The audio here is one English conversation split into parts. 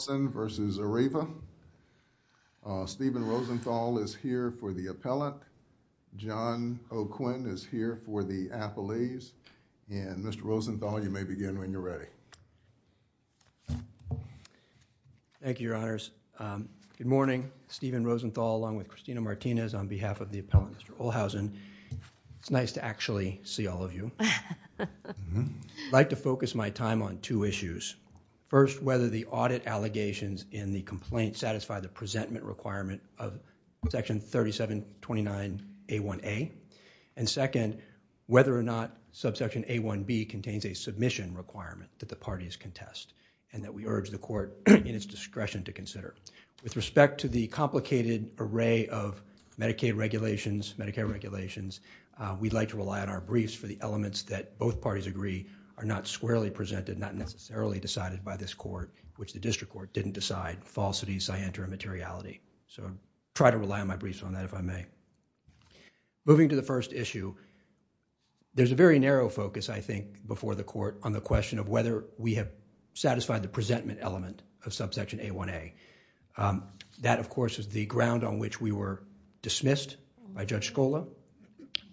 Stephen Rosenthal is here for the appellant. John O'Quinn is here for the appellees. And Mr. Rosenthal, you may begin when you're ready. Thank you, Your Honors. Good morning. Stephen Rosenthal along with Christina Martinez on behalf of the appellant, Mr. Olhausen. It's nice to actually see all of you. I'd like to begin with a couple of questions. First, do the allegations in the complaint satisfy the presentment requirement of Section 3729A1A? And second, whether or not Subsection A1B contains a submission requirement that the parties contest? And that we urge the court in its discretion to consider. With respect to the complicated array of Medicaid regulations, Medicare regulations, we'd like to rely on our briefs for the elements that both parties agree are not squarely presented, not necessarily decided by this court, which the court didn't decide, falsity, scienter, immateriality. So try to rely on my briefs on that if I may. Moving to the first issue, there's a very narrow focus, I think, before the court on the question of whether we have satisfied the presentment element of Subsection A1A. That, of course, is the ground on which we were dismissed by Judge Scola.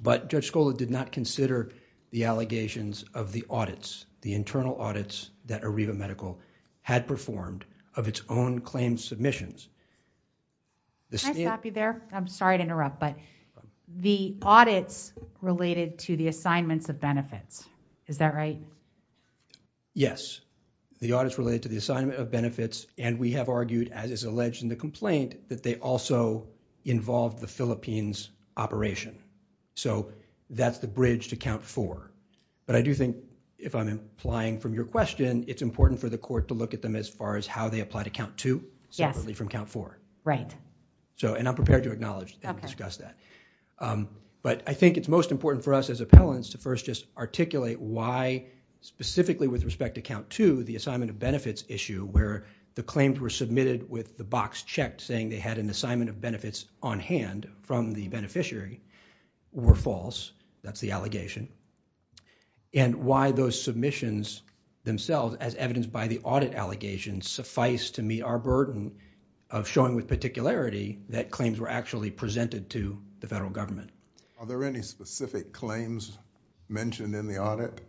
But Judge Scola did not consider the allegations of the audits, the internal audits that Arriva Medical had performed of its own claim submissions. Can I stop you there? I'm sorry to interrupt, but the audits related to the assignments of benefits, is that right? Yes. The audits related to the assignment of benefits and we have argued, as is alleged in the complaint, that they also involve the Philippines operation. So that's the bridge to Count 4. But I do think, if I'm implying from your question, it's important for the court to look at them as far as how they apply to Count 2, separately from Count 4. Right. And I'm prepared to acknowledge and discuss that. But I think it's most important for us as appellants to first just articulate why, specifically with respect to Count 2, the assignment of benefits issue, where the claims were submitted with the box checked saying they had an assignment of benefits on hand from the beneficiary, were false. That's the allegation. And why those claims themselves, as evidenced by the audit allegations, suffice to meet our burden of showing with particularity that claims were actually presented to the federal government. Are there any specific claims mentioned in the audit?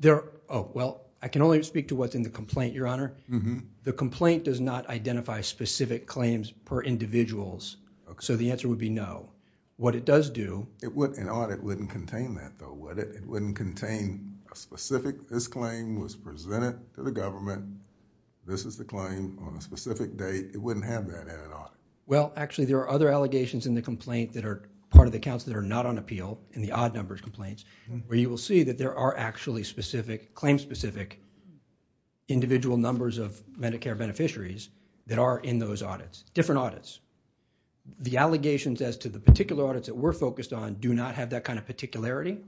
There, oh, well, I can only speak to what's in the complaint, Your Honor. The complaint does not identify specific claims per individuals. So the answer would be no. What it does do... An audit wouldn't contain that, though, would it? It wouldn't contain a claim presented to the government. This is the claim on a specific date. It wouldn't have that in an audit. Well, actually, there are other allegations in the complaint that are part of the counts that are not on appeal, in the odd numbers complaints, where you will see that there are actually specific, claim specific, individual numbers of Medicare beneficiaries that are in those audits. Different audits. The allegations as to the particular audits that we're focused on do not have that kind of particularity.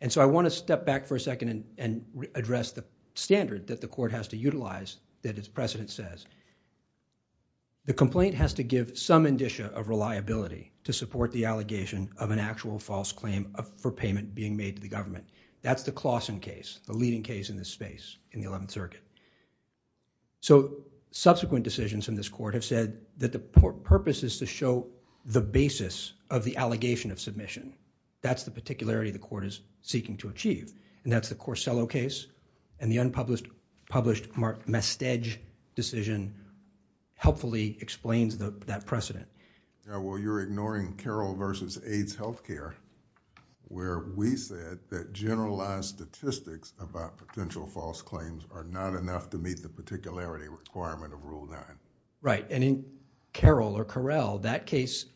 And so I want to step back for a second and address the standard that the court has to utilize that its precedent says. The complaint has to give some indicia of reliability to support the allegation of an actual false claim for payment being made to the government. That's the Claussen case, the leading case in this space in the Eleventh Circuit. So subsequent decisions in this court have said that the purpose is to show the basis of the allegation of submission. That's the particularity the Claussen case and the unpublished Mastedge decision helpfully explains that precedent. Yeah, well, you're ignoring Carroll versus AIDS Healthcare where we said that generalized statistics about potential false claims are not enough to meet the particularity requirement of Rule 9. Right, and in Carroll or Correll, that case,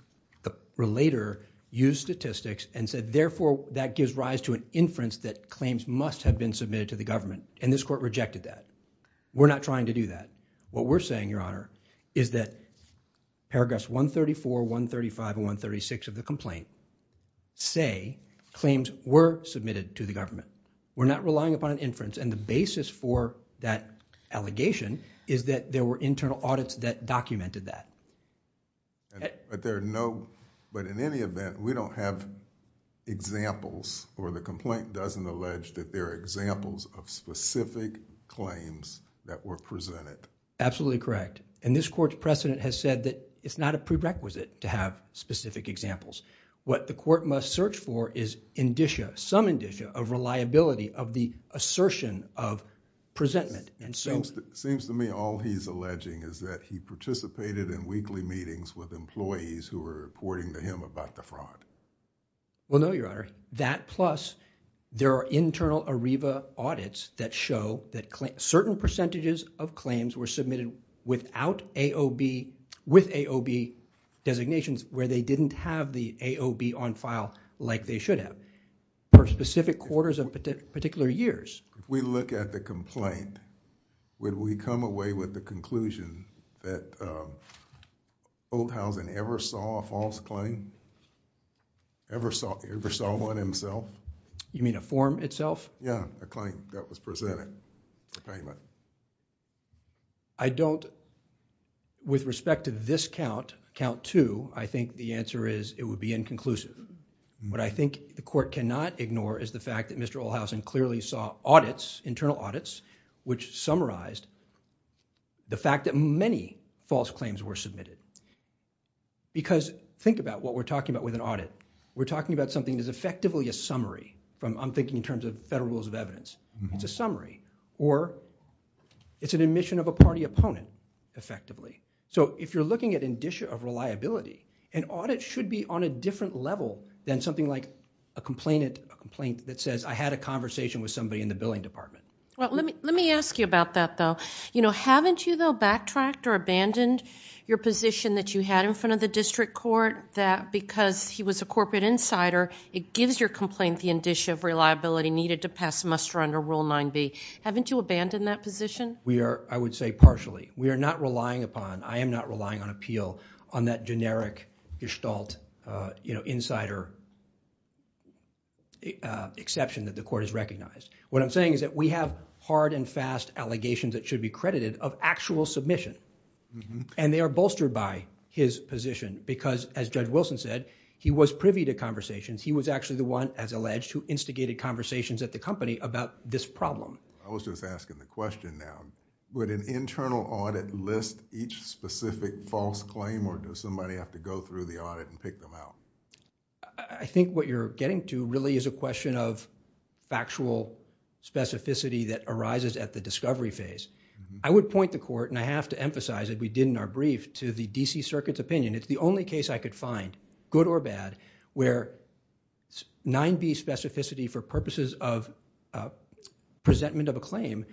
the relator used statistics and said therefore that gives rise to an inference that claims must have been submitted to the government and this court rejected that. We're not trying to do that. What we're saying, Your Honor, is that paragraphs 134, 135, and 136 of the complaint say claims were submitted to the government. We're not relying upon an inference and the basis for that allegation is that there were internal audits that documented that. But there are no, but in any event, we don't have examples or the complaint doesn't allege that there are examples of specific claims that were presented. Absolutely correct, and this court's precedent has said that it's not a prerequisite to have specific examples. What the court must search for is indicia, some indicia of reliability of the assertion of presentment and so... It seems to me all he's alleging is that he participated in weekly meetings with employees who were reporting to him about the fraud. Well, no, Your Honor. That plus there are internal ARIVA audits that show that certain percentages of claims were submitted without AOB, with AOB designations where they didn't have the AOB on file like they should have for specific quarters of particular years. If we look at the complaint, would we come away with the claim that Olhausen ever saw one himself? You mean a form itself? Yeah, a claim that was presented for payment. I don't... With respect to this count, count two, I think the answer is it would be inconclusive. What I think the court cannot ignore is the fact that Mr. Olhausen clearly saw audits, internal audits, which summarized the fact that many false claims were submitted. Because think about what we're talking about with an audit. We're talking about something that's effectively a summary from... I'm thinking in terms of Federal Rules of Evidence. It's a summary or it's an admission of a party opponent effectively. If you're looking at indicia of reliability, an audit should be on a different level than something like a complaint that says, I had a conversation with somebody in the billing department. Well, let me ask you about that though. Haven't you though backtracked or abandoned your position that you had in front of the district court that because he was a corporate insider, it gives your complaint the indicia of reliability needed to pass muster under Rule 9b? Haven't you abandoned that position? We are, I would say, partially. We are not relying upon, I am not relying on appeal on that generic gestalt insider exception that the court has recognized. What I'm saying is that we have hard and fast allegations that should be credited of actual submission. They are bolstered by his position because, as Judge Wilson said, he was privy to conversations. He was actually the one, as alleged, who instigated conversations at the company about this problem. I was just asking the question now. Would an internal audit list each specific false claim or does somebody have to go through the audit and pick them out? I think what you're getting to really is a question of factual specificity that arises at the discovery phase. I would point the court, and I have to emphasize it, we did in our brief, to the D.C. Circuit's opinion. It's the only case I could find, good or bad, where 9b specificity for purposes of presentment of a claim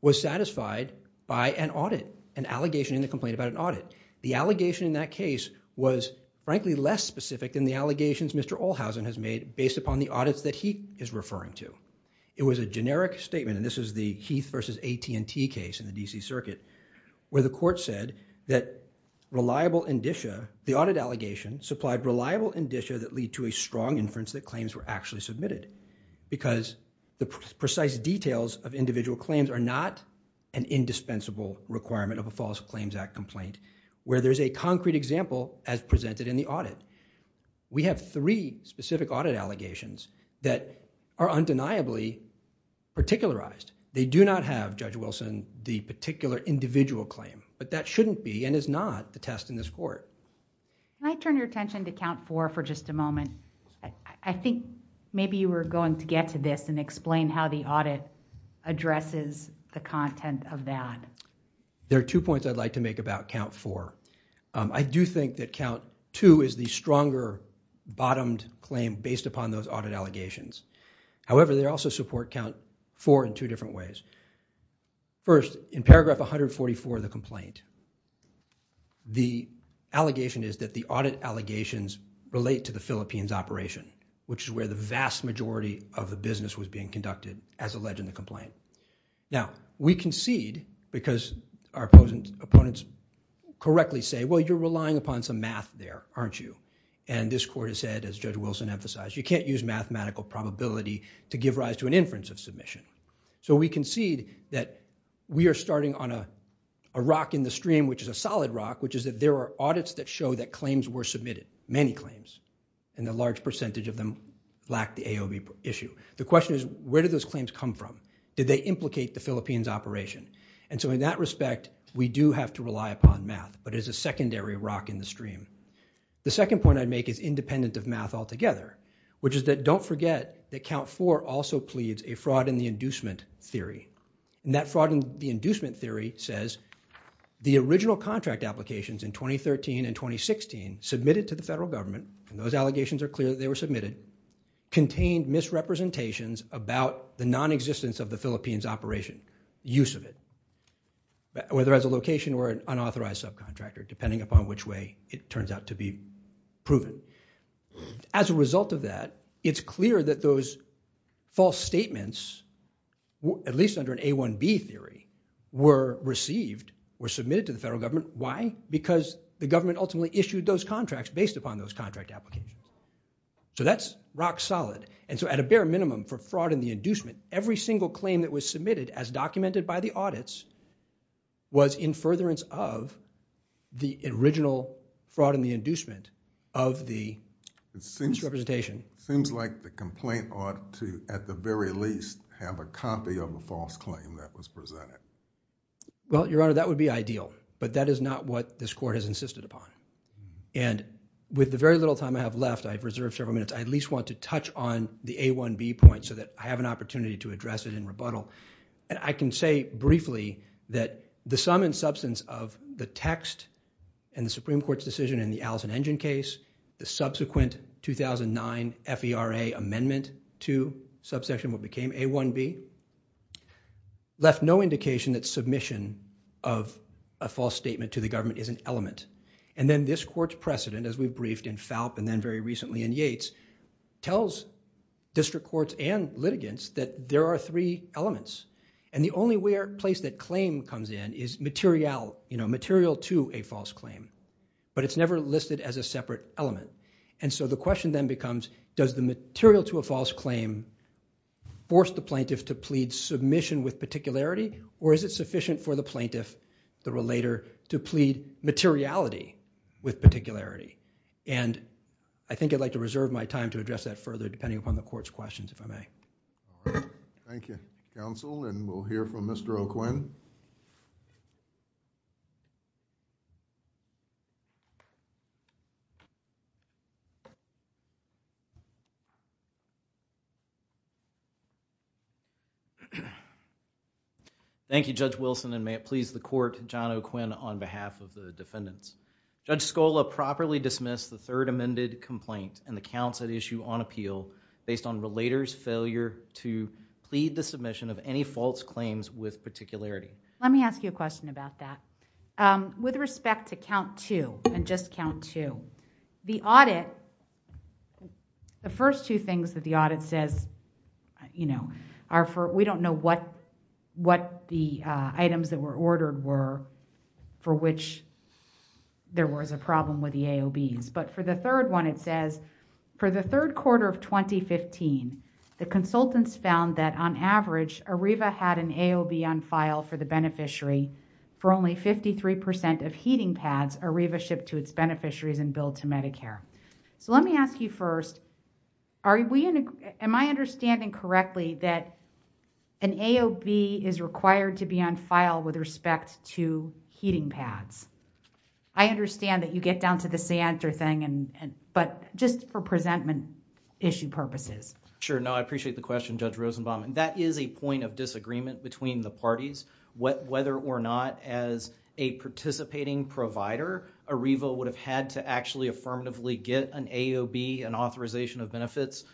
was satisfied by an audit, an allegation in the complaint about an audit. The allegation in that case was, frankly, less specific than the allegations Mr. Olhausen has made based upon the audits that he is referring to. It was a generic statement, and this is the Heath versus AT&T case in the D.C. Circuit, where the court said that reliable indicia, the audit allegation, supplied reliable indicia that lead to a strong inference that claims were actually submitted because the precise details of individual claims are not an indispensable requirement of a False Claims Act complaint where there's a concrete example as presented in the audit. We have three specific audit allegations that are undeniably particularized. They do not have, Judge Wilson, the particular individual claim, but that shouldn't be and is not the test in this court. Can I turn your attention to Count 4 for just a moment? I think maybe you were going to get to this and explain how the audit addresses the content of that. There are two points I'd like to make about Count 4. I do think that Count 2 is the stronger bottomed claim based upon those audit allegations. However, they also support Count 4 in two different ways. First, in paragraph 144 of the complaint, the allegation is that the audit allegations relate to the Philippines operation, which is where the vast majority of the business was being conducted as alleged in the complaint. Now, we concede because our opponents correctly say, well, you're relying upon some math there, aren't you? And this court has said, as Judge Wilson emphasized, you can't use mathematical probability to give rise to an inference of submission. So we concede that we are starting on a rock in the stream, which is a solid rock, which is that there are audits that show that claims were submitted, many claims, and a large percentage of them lack the AOB issue. The question is, where do those claims come from? Did they implicate the Philippines operation? And so in that respect, we do have to rely upon math, but it's a secondary rock in the stream. The second point I'd make is independent of math altogether, which is that don't forget that Count 4 also pleads a fraud in the inducement theory. And that fraud in the inducement theory says the original contract applications in 2013 and 2016 submitted to the federal government, and those allegations are clear that they were submitted, contained misrepresentations about the non-existence of the Philippines operation, use of it, whether as a location or an unauthorized subcontractor, depending upon which way it turns out to be proven. As a result of that, it's clear that those false statements, at least under an A1B theory, were received, were submitted to the federal government. Why? Because the government ultimately issued those contracts based upon those contract applications. So that's rock-solid, and so at a bare minimum for fraud in the inducement, every single claim that was submitted as documented by the audits was in furtherance of the original fraud in the indictment. So the complaint ought to, at the very least, have a copy of the false claim that was presented? Well, Your Honor, that would be ideal, but that is not what this Court has insisted upon. And with the very little time I have left, I've reserved several minutes, I at least want to touch on the A1B point so that I have an opportunity to address it in rebuttal. I can say briefly that the sum and substance of the text in the Supreme Court's 2009 FERA amendment to subsection, what became A1B, left no indication that submission of a false statement to the government is an element. And then this Court's precedent, as we briefed in FALP and then very recently in Yates, tells district courts and litigants that there are three elements. And the only place that claim comes in is material to a false claim, but it's never listed as a material to a false claim. Does the material to a false claim force the plaintiff to plead submission with particularity, or is it sufficient for the plaintiff, the relator, to plead materiality with particularity? And I think I'd like to reserve my time to address that further, depending upon the Court's questions, if I may. Thank you, counsel, and we'll hear from Mr. O'Quinn. Thank you, Judge Wilson, and may it please the Court, John O'Quinn, on behalf of the defendants. Judge Scola, properly dismiss the third amended complaint and the counts at issue on appeal based on relator's failure to plead the submission of any false claims with particularity. Let me ask you a question about that. With respect to count two, and just count two, the audit, the first two things that the audit says, we don't know what the items that were ordered were for which there was a problem with the AOBs. But for the third one, it says, for the third quarter of 2015, the consultants found that on average, ARIVA had an AOB on file for the beneficiary for only 53% of heating pads ARIVA shipped to its beneficiaries and billed to Medicare. Let me ask you first, am I understanding correctly that an AOB is required to be on file with respect to heating pads? I understand that you get down to the Santa thing, but just for presentment issue purposes. Sure. No, I appreciate the question, Judge Rosenbaum. That is a point of disagreement between the parties, whether or not as a participating provider, ARIVA would have had to actually affirmatively get an AOB, an authorization of benefits,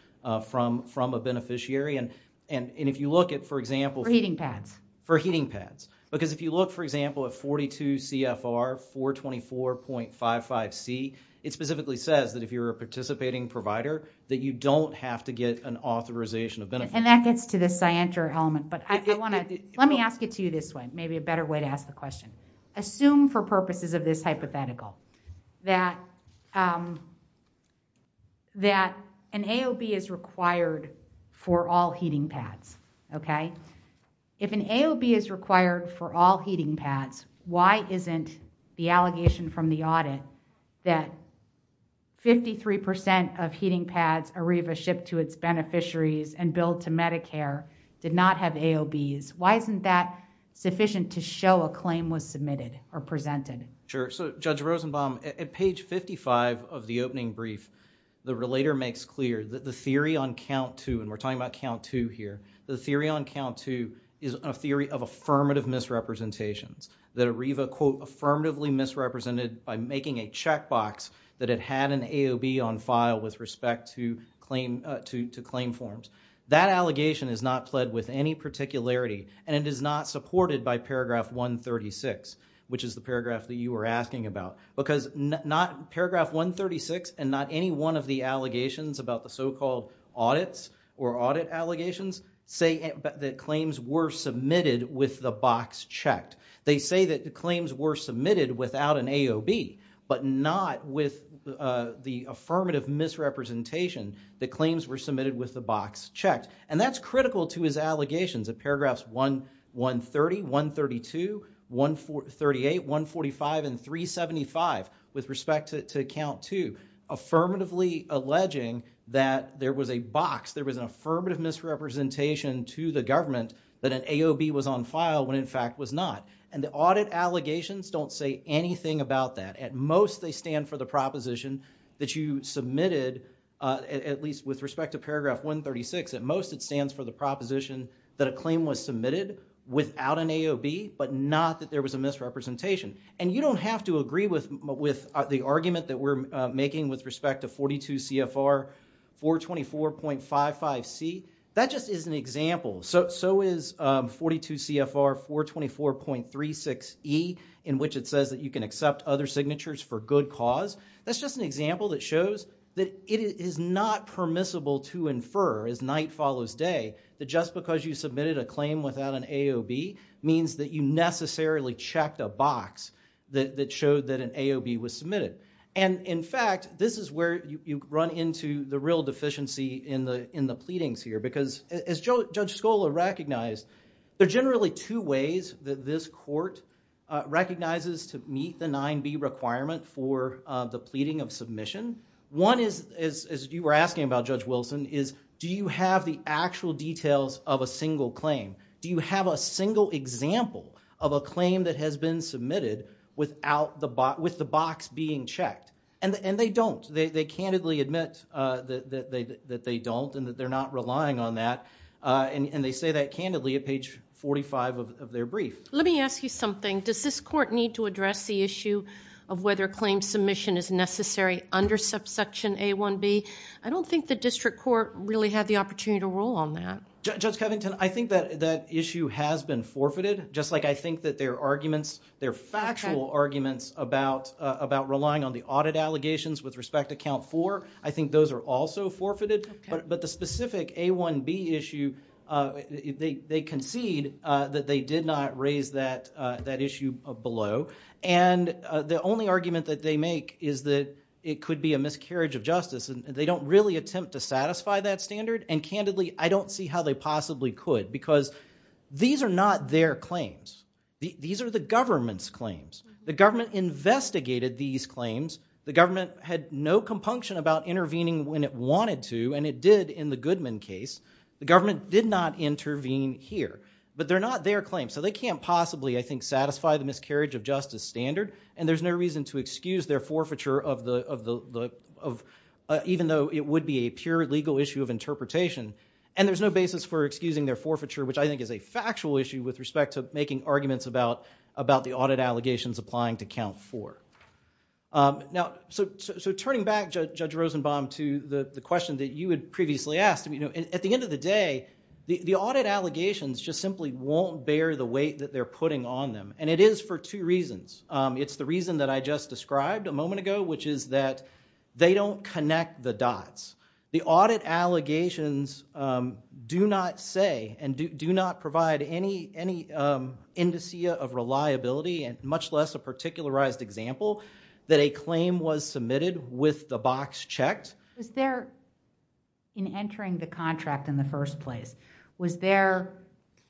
from a beneficiary. And if you look at, for example... For heating pads. For heating pads. Because if you look, for example, at 42 CFR 424.55C, it specifically says that if you're a participating provider, that you don't have to get an authorization of benefits. And that gets to the scienter element. Let me ask it to you this way, maybe a better way to ask the question. Assume for purposes of this hypothetical, that an AOB is required for all heating pads. If an AOB is required for all heating pads, why isn't the allegation from the audit that 53% of heating pads ARIVA shipped to its beneficiaries and billed to show a claim was submitted or presented? Sure. So Judge Rosenbaum, at page 55 of the opening brief, the relator makes clear that the theory on count two, and we're talking about count two here, the theory on count two is a theory of affirmative misrepresentations. That ARIVA, quote, affirmatively misrepresented by making a checkbox that it had an AOB on file with respect to claim forms. That allegation is not pled with any particularity and it is not supported by paragraph 136, which is the paragraph that you were asking about. Because paragraph 136 and not any one of the allegations about the so-called audits or audit allegations say that claims were submitted with the box checked. They say that the claims were submitted without an AOB, but not with the affirmative misrepresentation that claims were submitted with the box checked. And that's critical to his allegations at paragraphs 130, 132, 138, 145, and 375 with respect to count two. Affirmatively alleging that there was a box, there was an affirmative misrepresentation to the government that an AOB was on file when in fact was not. And the audit allegations don't say anything about that. At most they stand for the proposition that you submitted at least with respect to paragraph 136. At most it stands for the proposition that a claim was submitted without an AOB, but not that there was a misrepresentation. And you don't have to agree with the argument that we're making with respect to 42 CFR 424.55C. That just is an example. So is 42 CFR 424.36E in which it says that you can accept other claims. That's an example that shows that it is not permissible to infer as night follows day that just because you submitted a claim without an AOB means that you necessarily checked a box that showed that an AOB was submitted. And in fact, this is where you run into the real deficiency in the pleadings here. Because as Judge Scola recognized, there are generally two ways that this court recognizes to meet the 9B requirement for the pleading of submission. One is, as you were asking about Judge Wilson, is do you have the actual details of a single claim? Do you have a single example of a claim that has been submitted without the box being checked? And they don't. They candidly admit that they don't and that they're not relying on that. And they say that candidly at page 45 of their brief. Let me ask you something. Does this court need to address the issue of whether claim submission is necessary under subsection A1B? I don't think the district court really had the opportunity to rule on that. Judge Covington, I think that issue has been forfeited. Just like I think that their arguments, their factual arguments about relying on the audit allegations with respect to count four, I think those are also forfeited. But the specific A1B issue, they concede that they make is that it could be a miscarriage of justice. They don't really attempt to satisfy that standard. And candidly, I don't see how they possibly could. Because these are not their claims. These are the government's claims. The government investigated these claims. The government had no compunction about intervening when it wanted to, and it did in the Goodman case. The government did not intervene here. But they're not their claims. So they can't possibly, I think, satisfy the miscarriage of justice standard. And there's no reason to excuse their forfeiture, even though it would be a pure legal issue of interpretation. And there's no basis for excusing their forfeiture, which I think is a factual issue with respect to making arguments about the audit allegations applying to count four. So turning back, Judge Rosenbaum, to the question that you had previously asked, at the end of the day, the audit allegations just simply won't bear the weight that they're putting on them. And it is for two reasons. It's the reason that I just described a moment ago, which is that they don't connect the dots. The audit allegations do not say and do not provide any indicia of reliability, much less a particularized example, that a claim was submitted with the box checked. Was there, in entering the contract in the first place, was there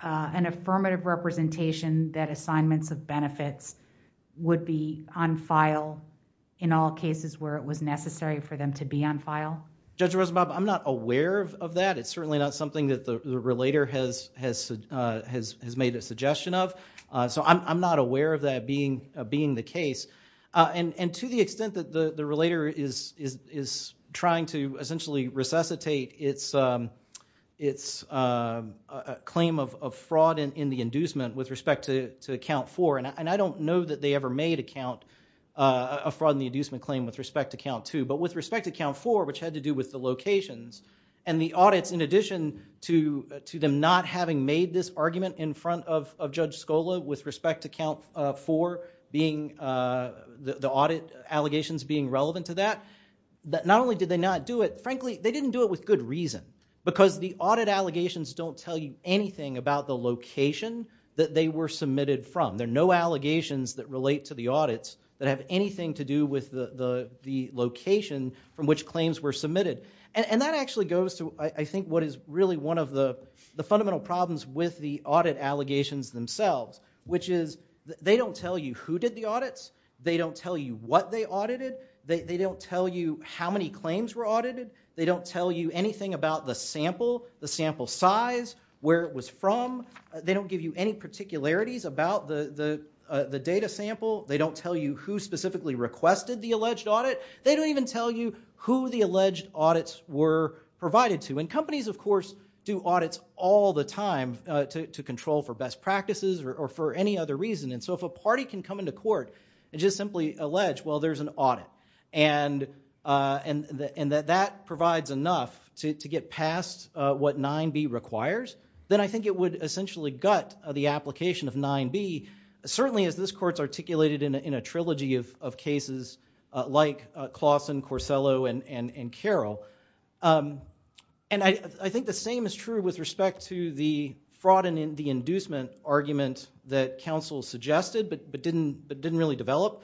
an affirmative representation that assignments of benefits would be on file in all cases where it was necessary for them to be on file? Judge Rosenbaum, I'm not aware of that. It's certainly not something that the relator has made a suggestion of. So I'm not aware of that being the case. And to the extent that the relator is trying to essentially resuscitate its claim of fraud in the inducement with respect to Count 4, and I don't know that they ever made a fraud in the inducement claim with respect to Count 2, but with respect to Count 4, which had to do with the locations, and the audits, in addition to them not having made this argument in front of Judge Scola with respect to Count 4, the audit allegations being relevant to that, not only did they not do it, frankly, they didn't do it with good reason. Because the audit allegations don't tell you anything about the location that they were submitted from. There are no allegations that relate to the audits that have anything to do with the location from which claims were submitted. And that actually goes to, I think, what is really one of the fundamental problems with the audit allegations themselves, which is they don't tell you who did the audits, they don't tell you what they audited, they don't tell you how many claims were audited, they don't tell you anything about the sample, the sample size, where it was from, they don't give you any particularities about the data sample, they don't tell you who specifically requested the alleged audit, they don't even tell you who the alleged audits were provided to. And companies, of course, do audits all the time to control for best practices or for any other reason, and so if a party can come into court and just simply allege, well, there's an audit, and that that provides enough to get past what 9B requires, then I think it would essentially gut the application of 9B, certainly as this court's articulated in a trilogy of cases like Claussen, Corsello, and Carroll. And I think the same is true with respect to the fraud and the inducement argument that counsel suggested, but didn't really develop,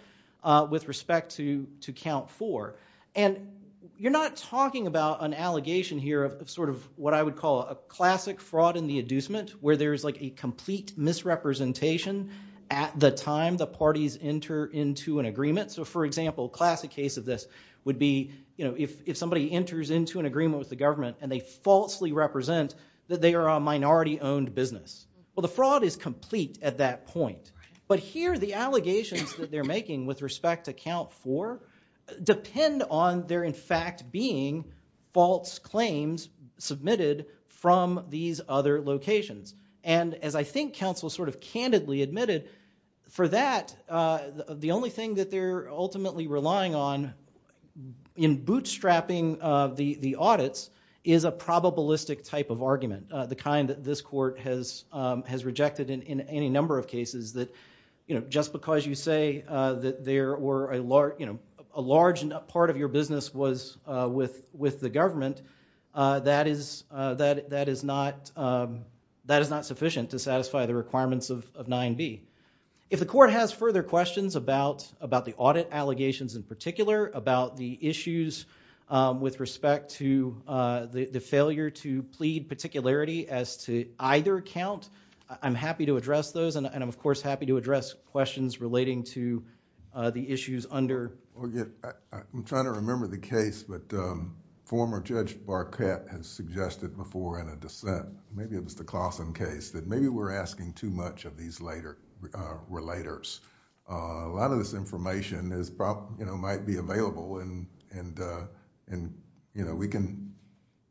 with respect to Count 4. And you're not talking about an allegation here of sort of what I would call a classic fraud and the inducement, where there's like a complete misrepresentation at the time the parties enter into an agreement. So, for example, classic case of this would be, you know, if somebody enters into an agreement with the government and they falsely represent that they are a minority-owned business. Well, the fraud is complete at that point. But here the allegations that they're making with respect to Count 4 depend on there in fact being false claims submitted from these other locations. And as I think counsel sort of candidly admitted, for that, the only thing that they're ultimately relying on in bootstrapping the audits is a probabilistic type of argument, the kind that this court has rejected in any number of cases that, you know, just because you say that there were a large, you know, a large part of your business was with the government, that is not sufficient to satisfy the requirements of 9b. If the court has further questions about the audit allegations in particular, about the issues with respect to the failure to plead particularity as to either count, I'm happy to address those and I'm of course happy to address questions relating to the issues under... I'm trying to remember the case, but former Judge Barquette has suggested before in a dissent, maybe it was the Clawson case, that maybe we're asking too much of these later relators. A lot of this information is, you know, might be available and, you know, we can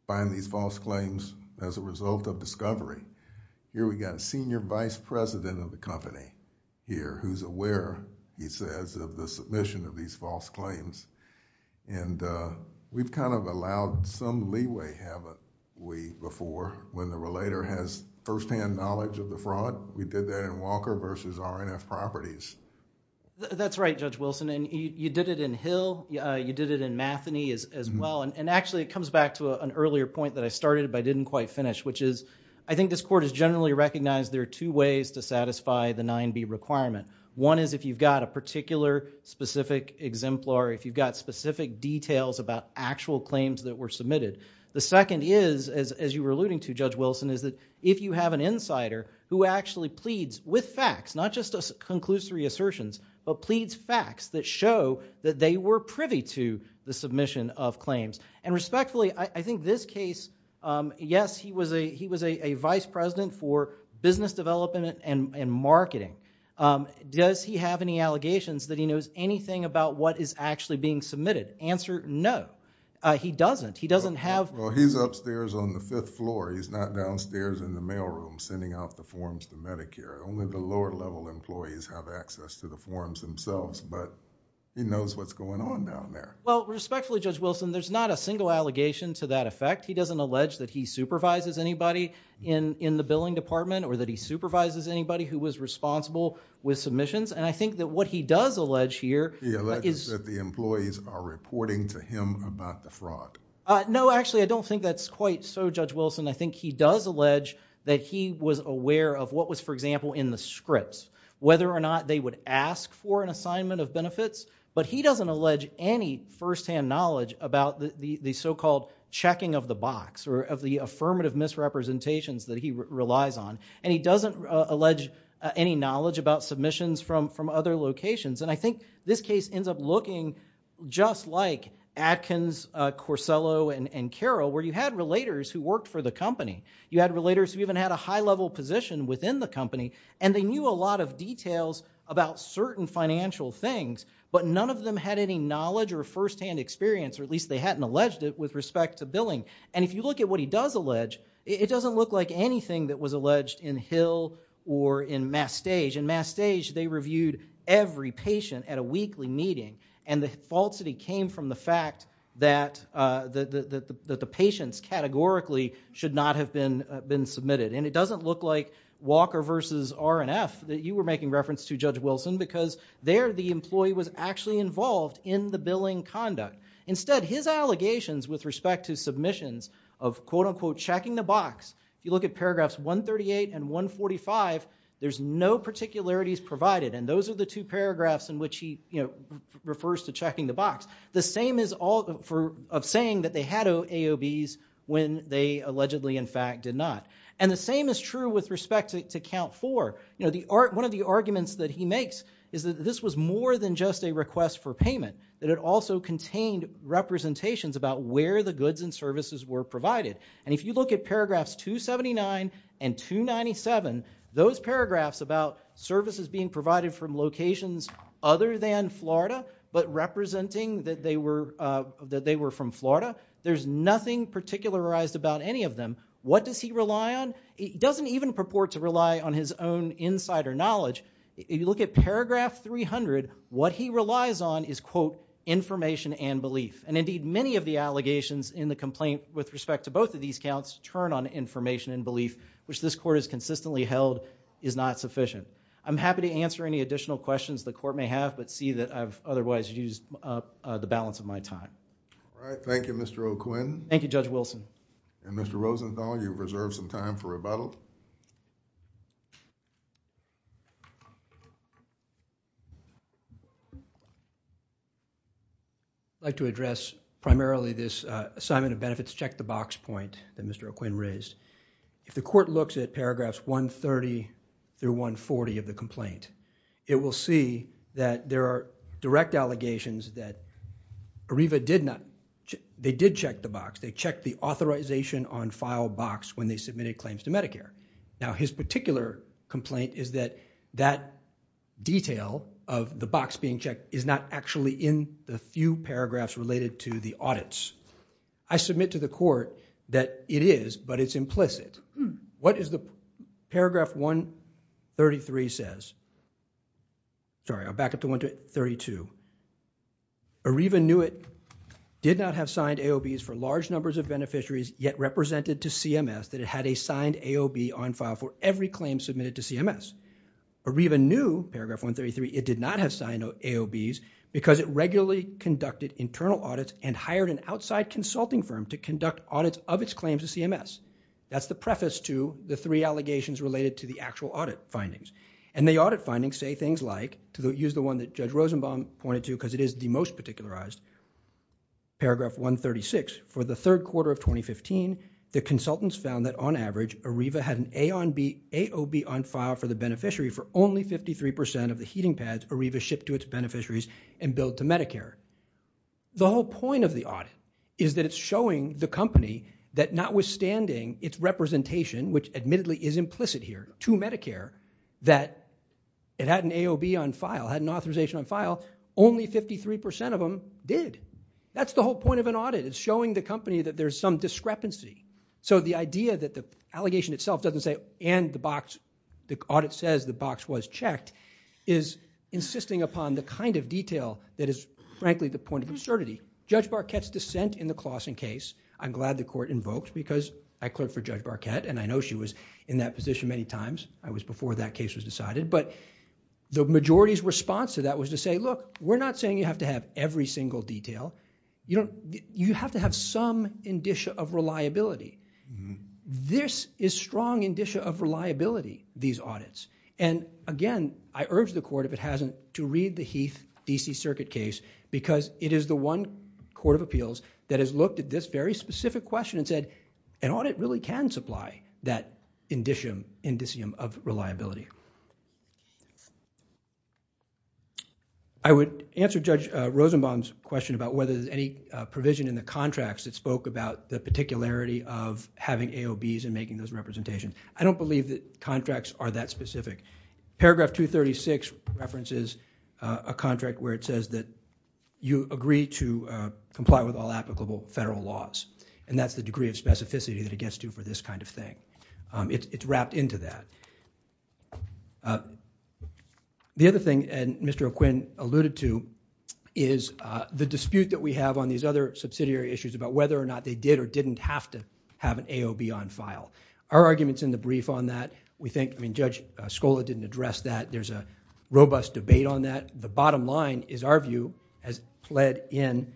find these false claims as a result of discovery. Here we've got a senior vice president of the company here who's aware, he says, of the submission of these false claims and we've kind of allowed some leeway have we before when the relator has firsthand knowledge of the fraud. We did that in Walker versus R&F Properties. That's right, Judge Wilson, and you did it in Hill, you did it in Matheny as well and actually it comes back to an earlier point that I started but I didn't quite finish which is I think this Court has generally recognized there are two ways to satisfy the 9B requirement. One is if you've got a particular specific exemplar, if you've got specific details about actual claims that were submitted. The second is, as you were alluding to, Judge Wilson, is that if you have an insider who actually pleads with facts, not just conclusory assertions, but pleads facts that show that they were privy to the submission of claims. And respectfully, I think this case, yes, he was a vice president for business development and marketing. Does he have any allegations that he knows anything about what is actually being submitted? Answer, no. He doesn't. He doesn't have... Well, he's upstairs on the fifth floor. He's not downstairs in the mail room sending out emails. He doesn't have access to the forums themselves, but he knows what's going on down there. Respectfully, Judge Wilson, there's not a single allegation to that effect. He doesn't allege that he supervises anybody in the billing department or that he supervises anybody who was responsible with submissions. I think that what he does allege here... He alleges that the employees are reporting to him about the fraud. No, actually, I don't think that's quite so, Judge Wilson. I think he does allege that he was aware of what was, for example, in the scripts, whether or not they would ask for an assignment of benefits, but he doesn't allege any firsthand knowledge about the so-called checking of the box or of the affirmative misrepresentations that he relies on. And he doesn't allege any knowledge about submissions from other locations. And I think this case ends up looking just like Atkins, Corsello, and Carroll, where you had relators who worked for the company. You had relators who even had a high-level position within the company, and they knew a lot of details about certain financial things, but none of them had any knowledge or firsthand experience, or at least they hadn't alleged it with respect to billing. And if you look at what he does allege, it doesn't look like anything that was alleged in Hill or in Mastage. In Mastage, they reviewed every patient at a weekly meeting, and the falsity came from the fact that the patients categorically should not have been submitted. And it doesn't look like Walker v. R&F that you were making reference to, Judge Wilson, because there the employee was actually involved in the billing conduct. Instead, his allegations with respect to submissions of quote-unquote checking the box, you look at paragraphs 138 and 145, there's no particularities provided. And those are the two paragraphs in which he refers to checking the box. The same is true of saying that they had AOBs when they allegedly, in fact, did not. And the same is true with respect to Count 4. One of the arguments that he makes is that this was more than just a request for payment, that it also contained representations about where the goods and services were provided. And if you look at paragraphs 279 and 297, those paragraphs about services being provided from locations other than Florida, but representing that they were from Florida, there's nothing particularized about any of them. What does he rely on? He doesn't even purport to rely on his own insider knowledge. If you look at paragraph 300, what he relies on is quote, information and belief. And indeed, many of the allegations in the complaint with respect to both of these counts turn on information and belief, which this court has consistently held is not sufficient. I'm happy to answer any additional questions the court may have, but see that I've otherwise used up the balance of my time. All right. Thank you, Mr. O'Quinn. Thank you, Judge Wilson. And Mr. Rosenthal, you've reserved some time for rebuttal. I'd like to address primarily this assignment of benefits, check the box point that Mr. O'Quinn raised. If the court looks at paragraphs 130 through 140 of the complaint, it will see that there are direct allegations that ARIVA did not, they did check the box. They checked the authorization on file box when they submitted claims to Medicare. Now, his particular complaint is that that detail of the box being checked is not actually in the few paragraphs related to the audits. I submit to the court that it is, but it's Sorry, I'll back up to 132. ARIVA knew it did not have signed AOBs for large numbers of beneficiaries yet represented to CMS that it had a signed AOB on file for every claim submitted to CMS. ARIVA knew, paragraph 133, it did not have signed AOBs because it regularly conducted internal audits and hired an outside consulting firm to conduct audits of its claims to CMS. That's the preface to the three allegations related to the actual audit findings. And the audit findings say things like, to use the one that Judge Rosenbaum pointed to because it is the most particularized, paragraph 136, for the third quarter of 2015, the consultants found that on average, ARIVA had an AOB on file for the beneficiary for only 53% of the heating pads ARIVA shipped to its beneficiaries and billed to Medicare. The whole point of the audit is that it's showing the company that notwithstanding its representation, which it had an AOB on file, had an authorization on file, only 53% of them did. That's the whole point of an audit. It's showing the company that there's some discrepancy. So the idea that the allegation itself doesn't say, and the box, the audit says the box was checked, is insisting upon the kind of detail that is frankly the point of absurdity. Judge Barquette's dissent in the Claussen case, I'm glad the court invoked because I clerked for Judge Barquette and I know she was in that position many times. I was before that case was decided, but the majority's response to that was to say, look, we're not saying you have to have every single detail. You have to have some indicia of reliability. This is strong indicia of reliability, these audits. Again, I urge the court, if it hasn't, to read the Heath D.C. Circuit case because it is the one court of appeals that has looked at this very specific question and said, an audit really can supply that indicium of reliability. I would answer Judge Rosenbaum's question about whether there's any provision in the contracts that spoke about the particularity of having AOBs and making those representations. I don't believe that contracts are that specific. Paragraph 236 references a contract where it says that you agree to comply with all applicable federal laws. That's the degree of specificity that it gets to for this kind of thing. It's wrapped into that. The other thing Mr. O'Quinn alluded to is the dispute that we have on these other subsidiary issues about whether or not they did or didn't have to have an AOB on file. Our argument's in the brief on that. We think, I mean, Judge Scola didn't address that. There's a robust debate on that. The bottom line is our view has pled in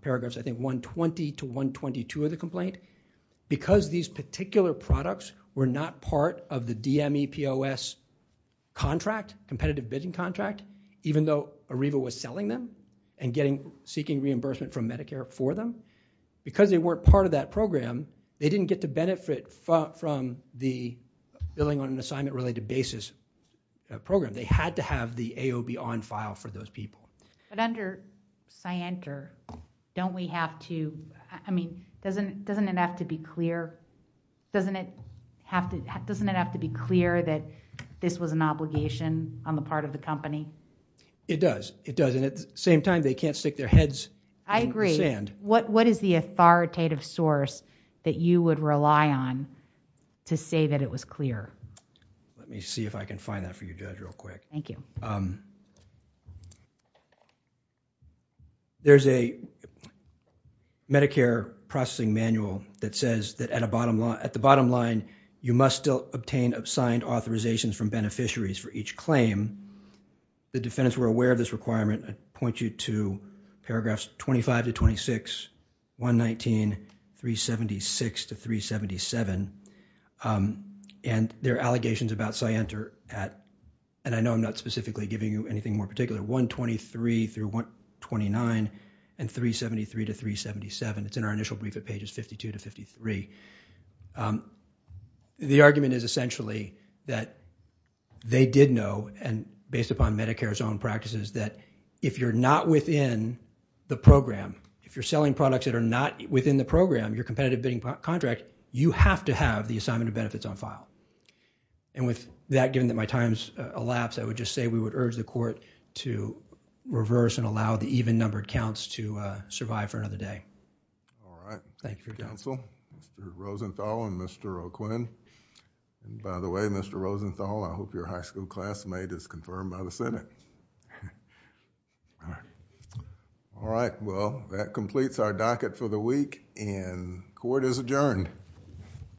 paragraphs 120 to 122 of the complaint. Because these particular products were not part of the DMEPOS contract, competitive bidding contract, even though ARIVA was selling them and seeking reimbursement from Medicare for them, because they weren't part of that program, they didn't get to benefit from the billing on an assignment-related basis program. They had to have the AOB on file for those people. Under Scienter, don't we have to, I mean, doesn't it have to be clear that this was an obligation on the part of the company? It does. It does. At the same time, they can't stick their heads in the sand. I agree. What is the authoritative source that you would rely on to say that it was clear? Let me see if I can find that for you, Judge, real quick. Thank you. There's a Medicare processing manual that says that at the bottom line, you must still obtain signed authorizations from beneficiaries for each claim. The defendants were aware of this requirement. I point you to paragraphs 25 to 26, 119, 376 to 377. There are allegations about Scienter at, and I know I'm not specifically giving you anything more particular, 123 through 129 and 373 to 377. It's in our initial brief at pages 52 to 53. The argument is essentially that they did know, and based upon Medicare's own practices, that if you're not within the program, if you're selling products that are not within the program, your competitive bidding contract, you have to have the assignment of benefits on file. With that, given that my time's elapsed, I would just say we would urge the court to reverse and allow the even-numbered counts to survive for another day. All right. Thank you, Counsel. Mr. Rosenthal and Mr. O'Quinn. By the way, Mr. Rosenthal, I hope your high school classmate is confirmed by the Senate. All right. Well, that completes our docket for the week, and court is adjourned.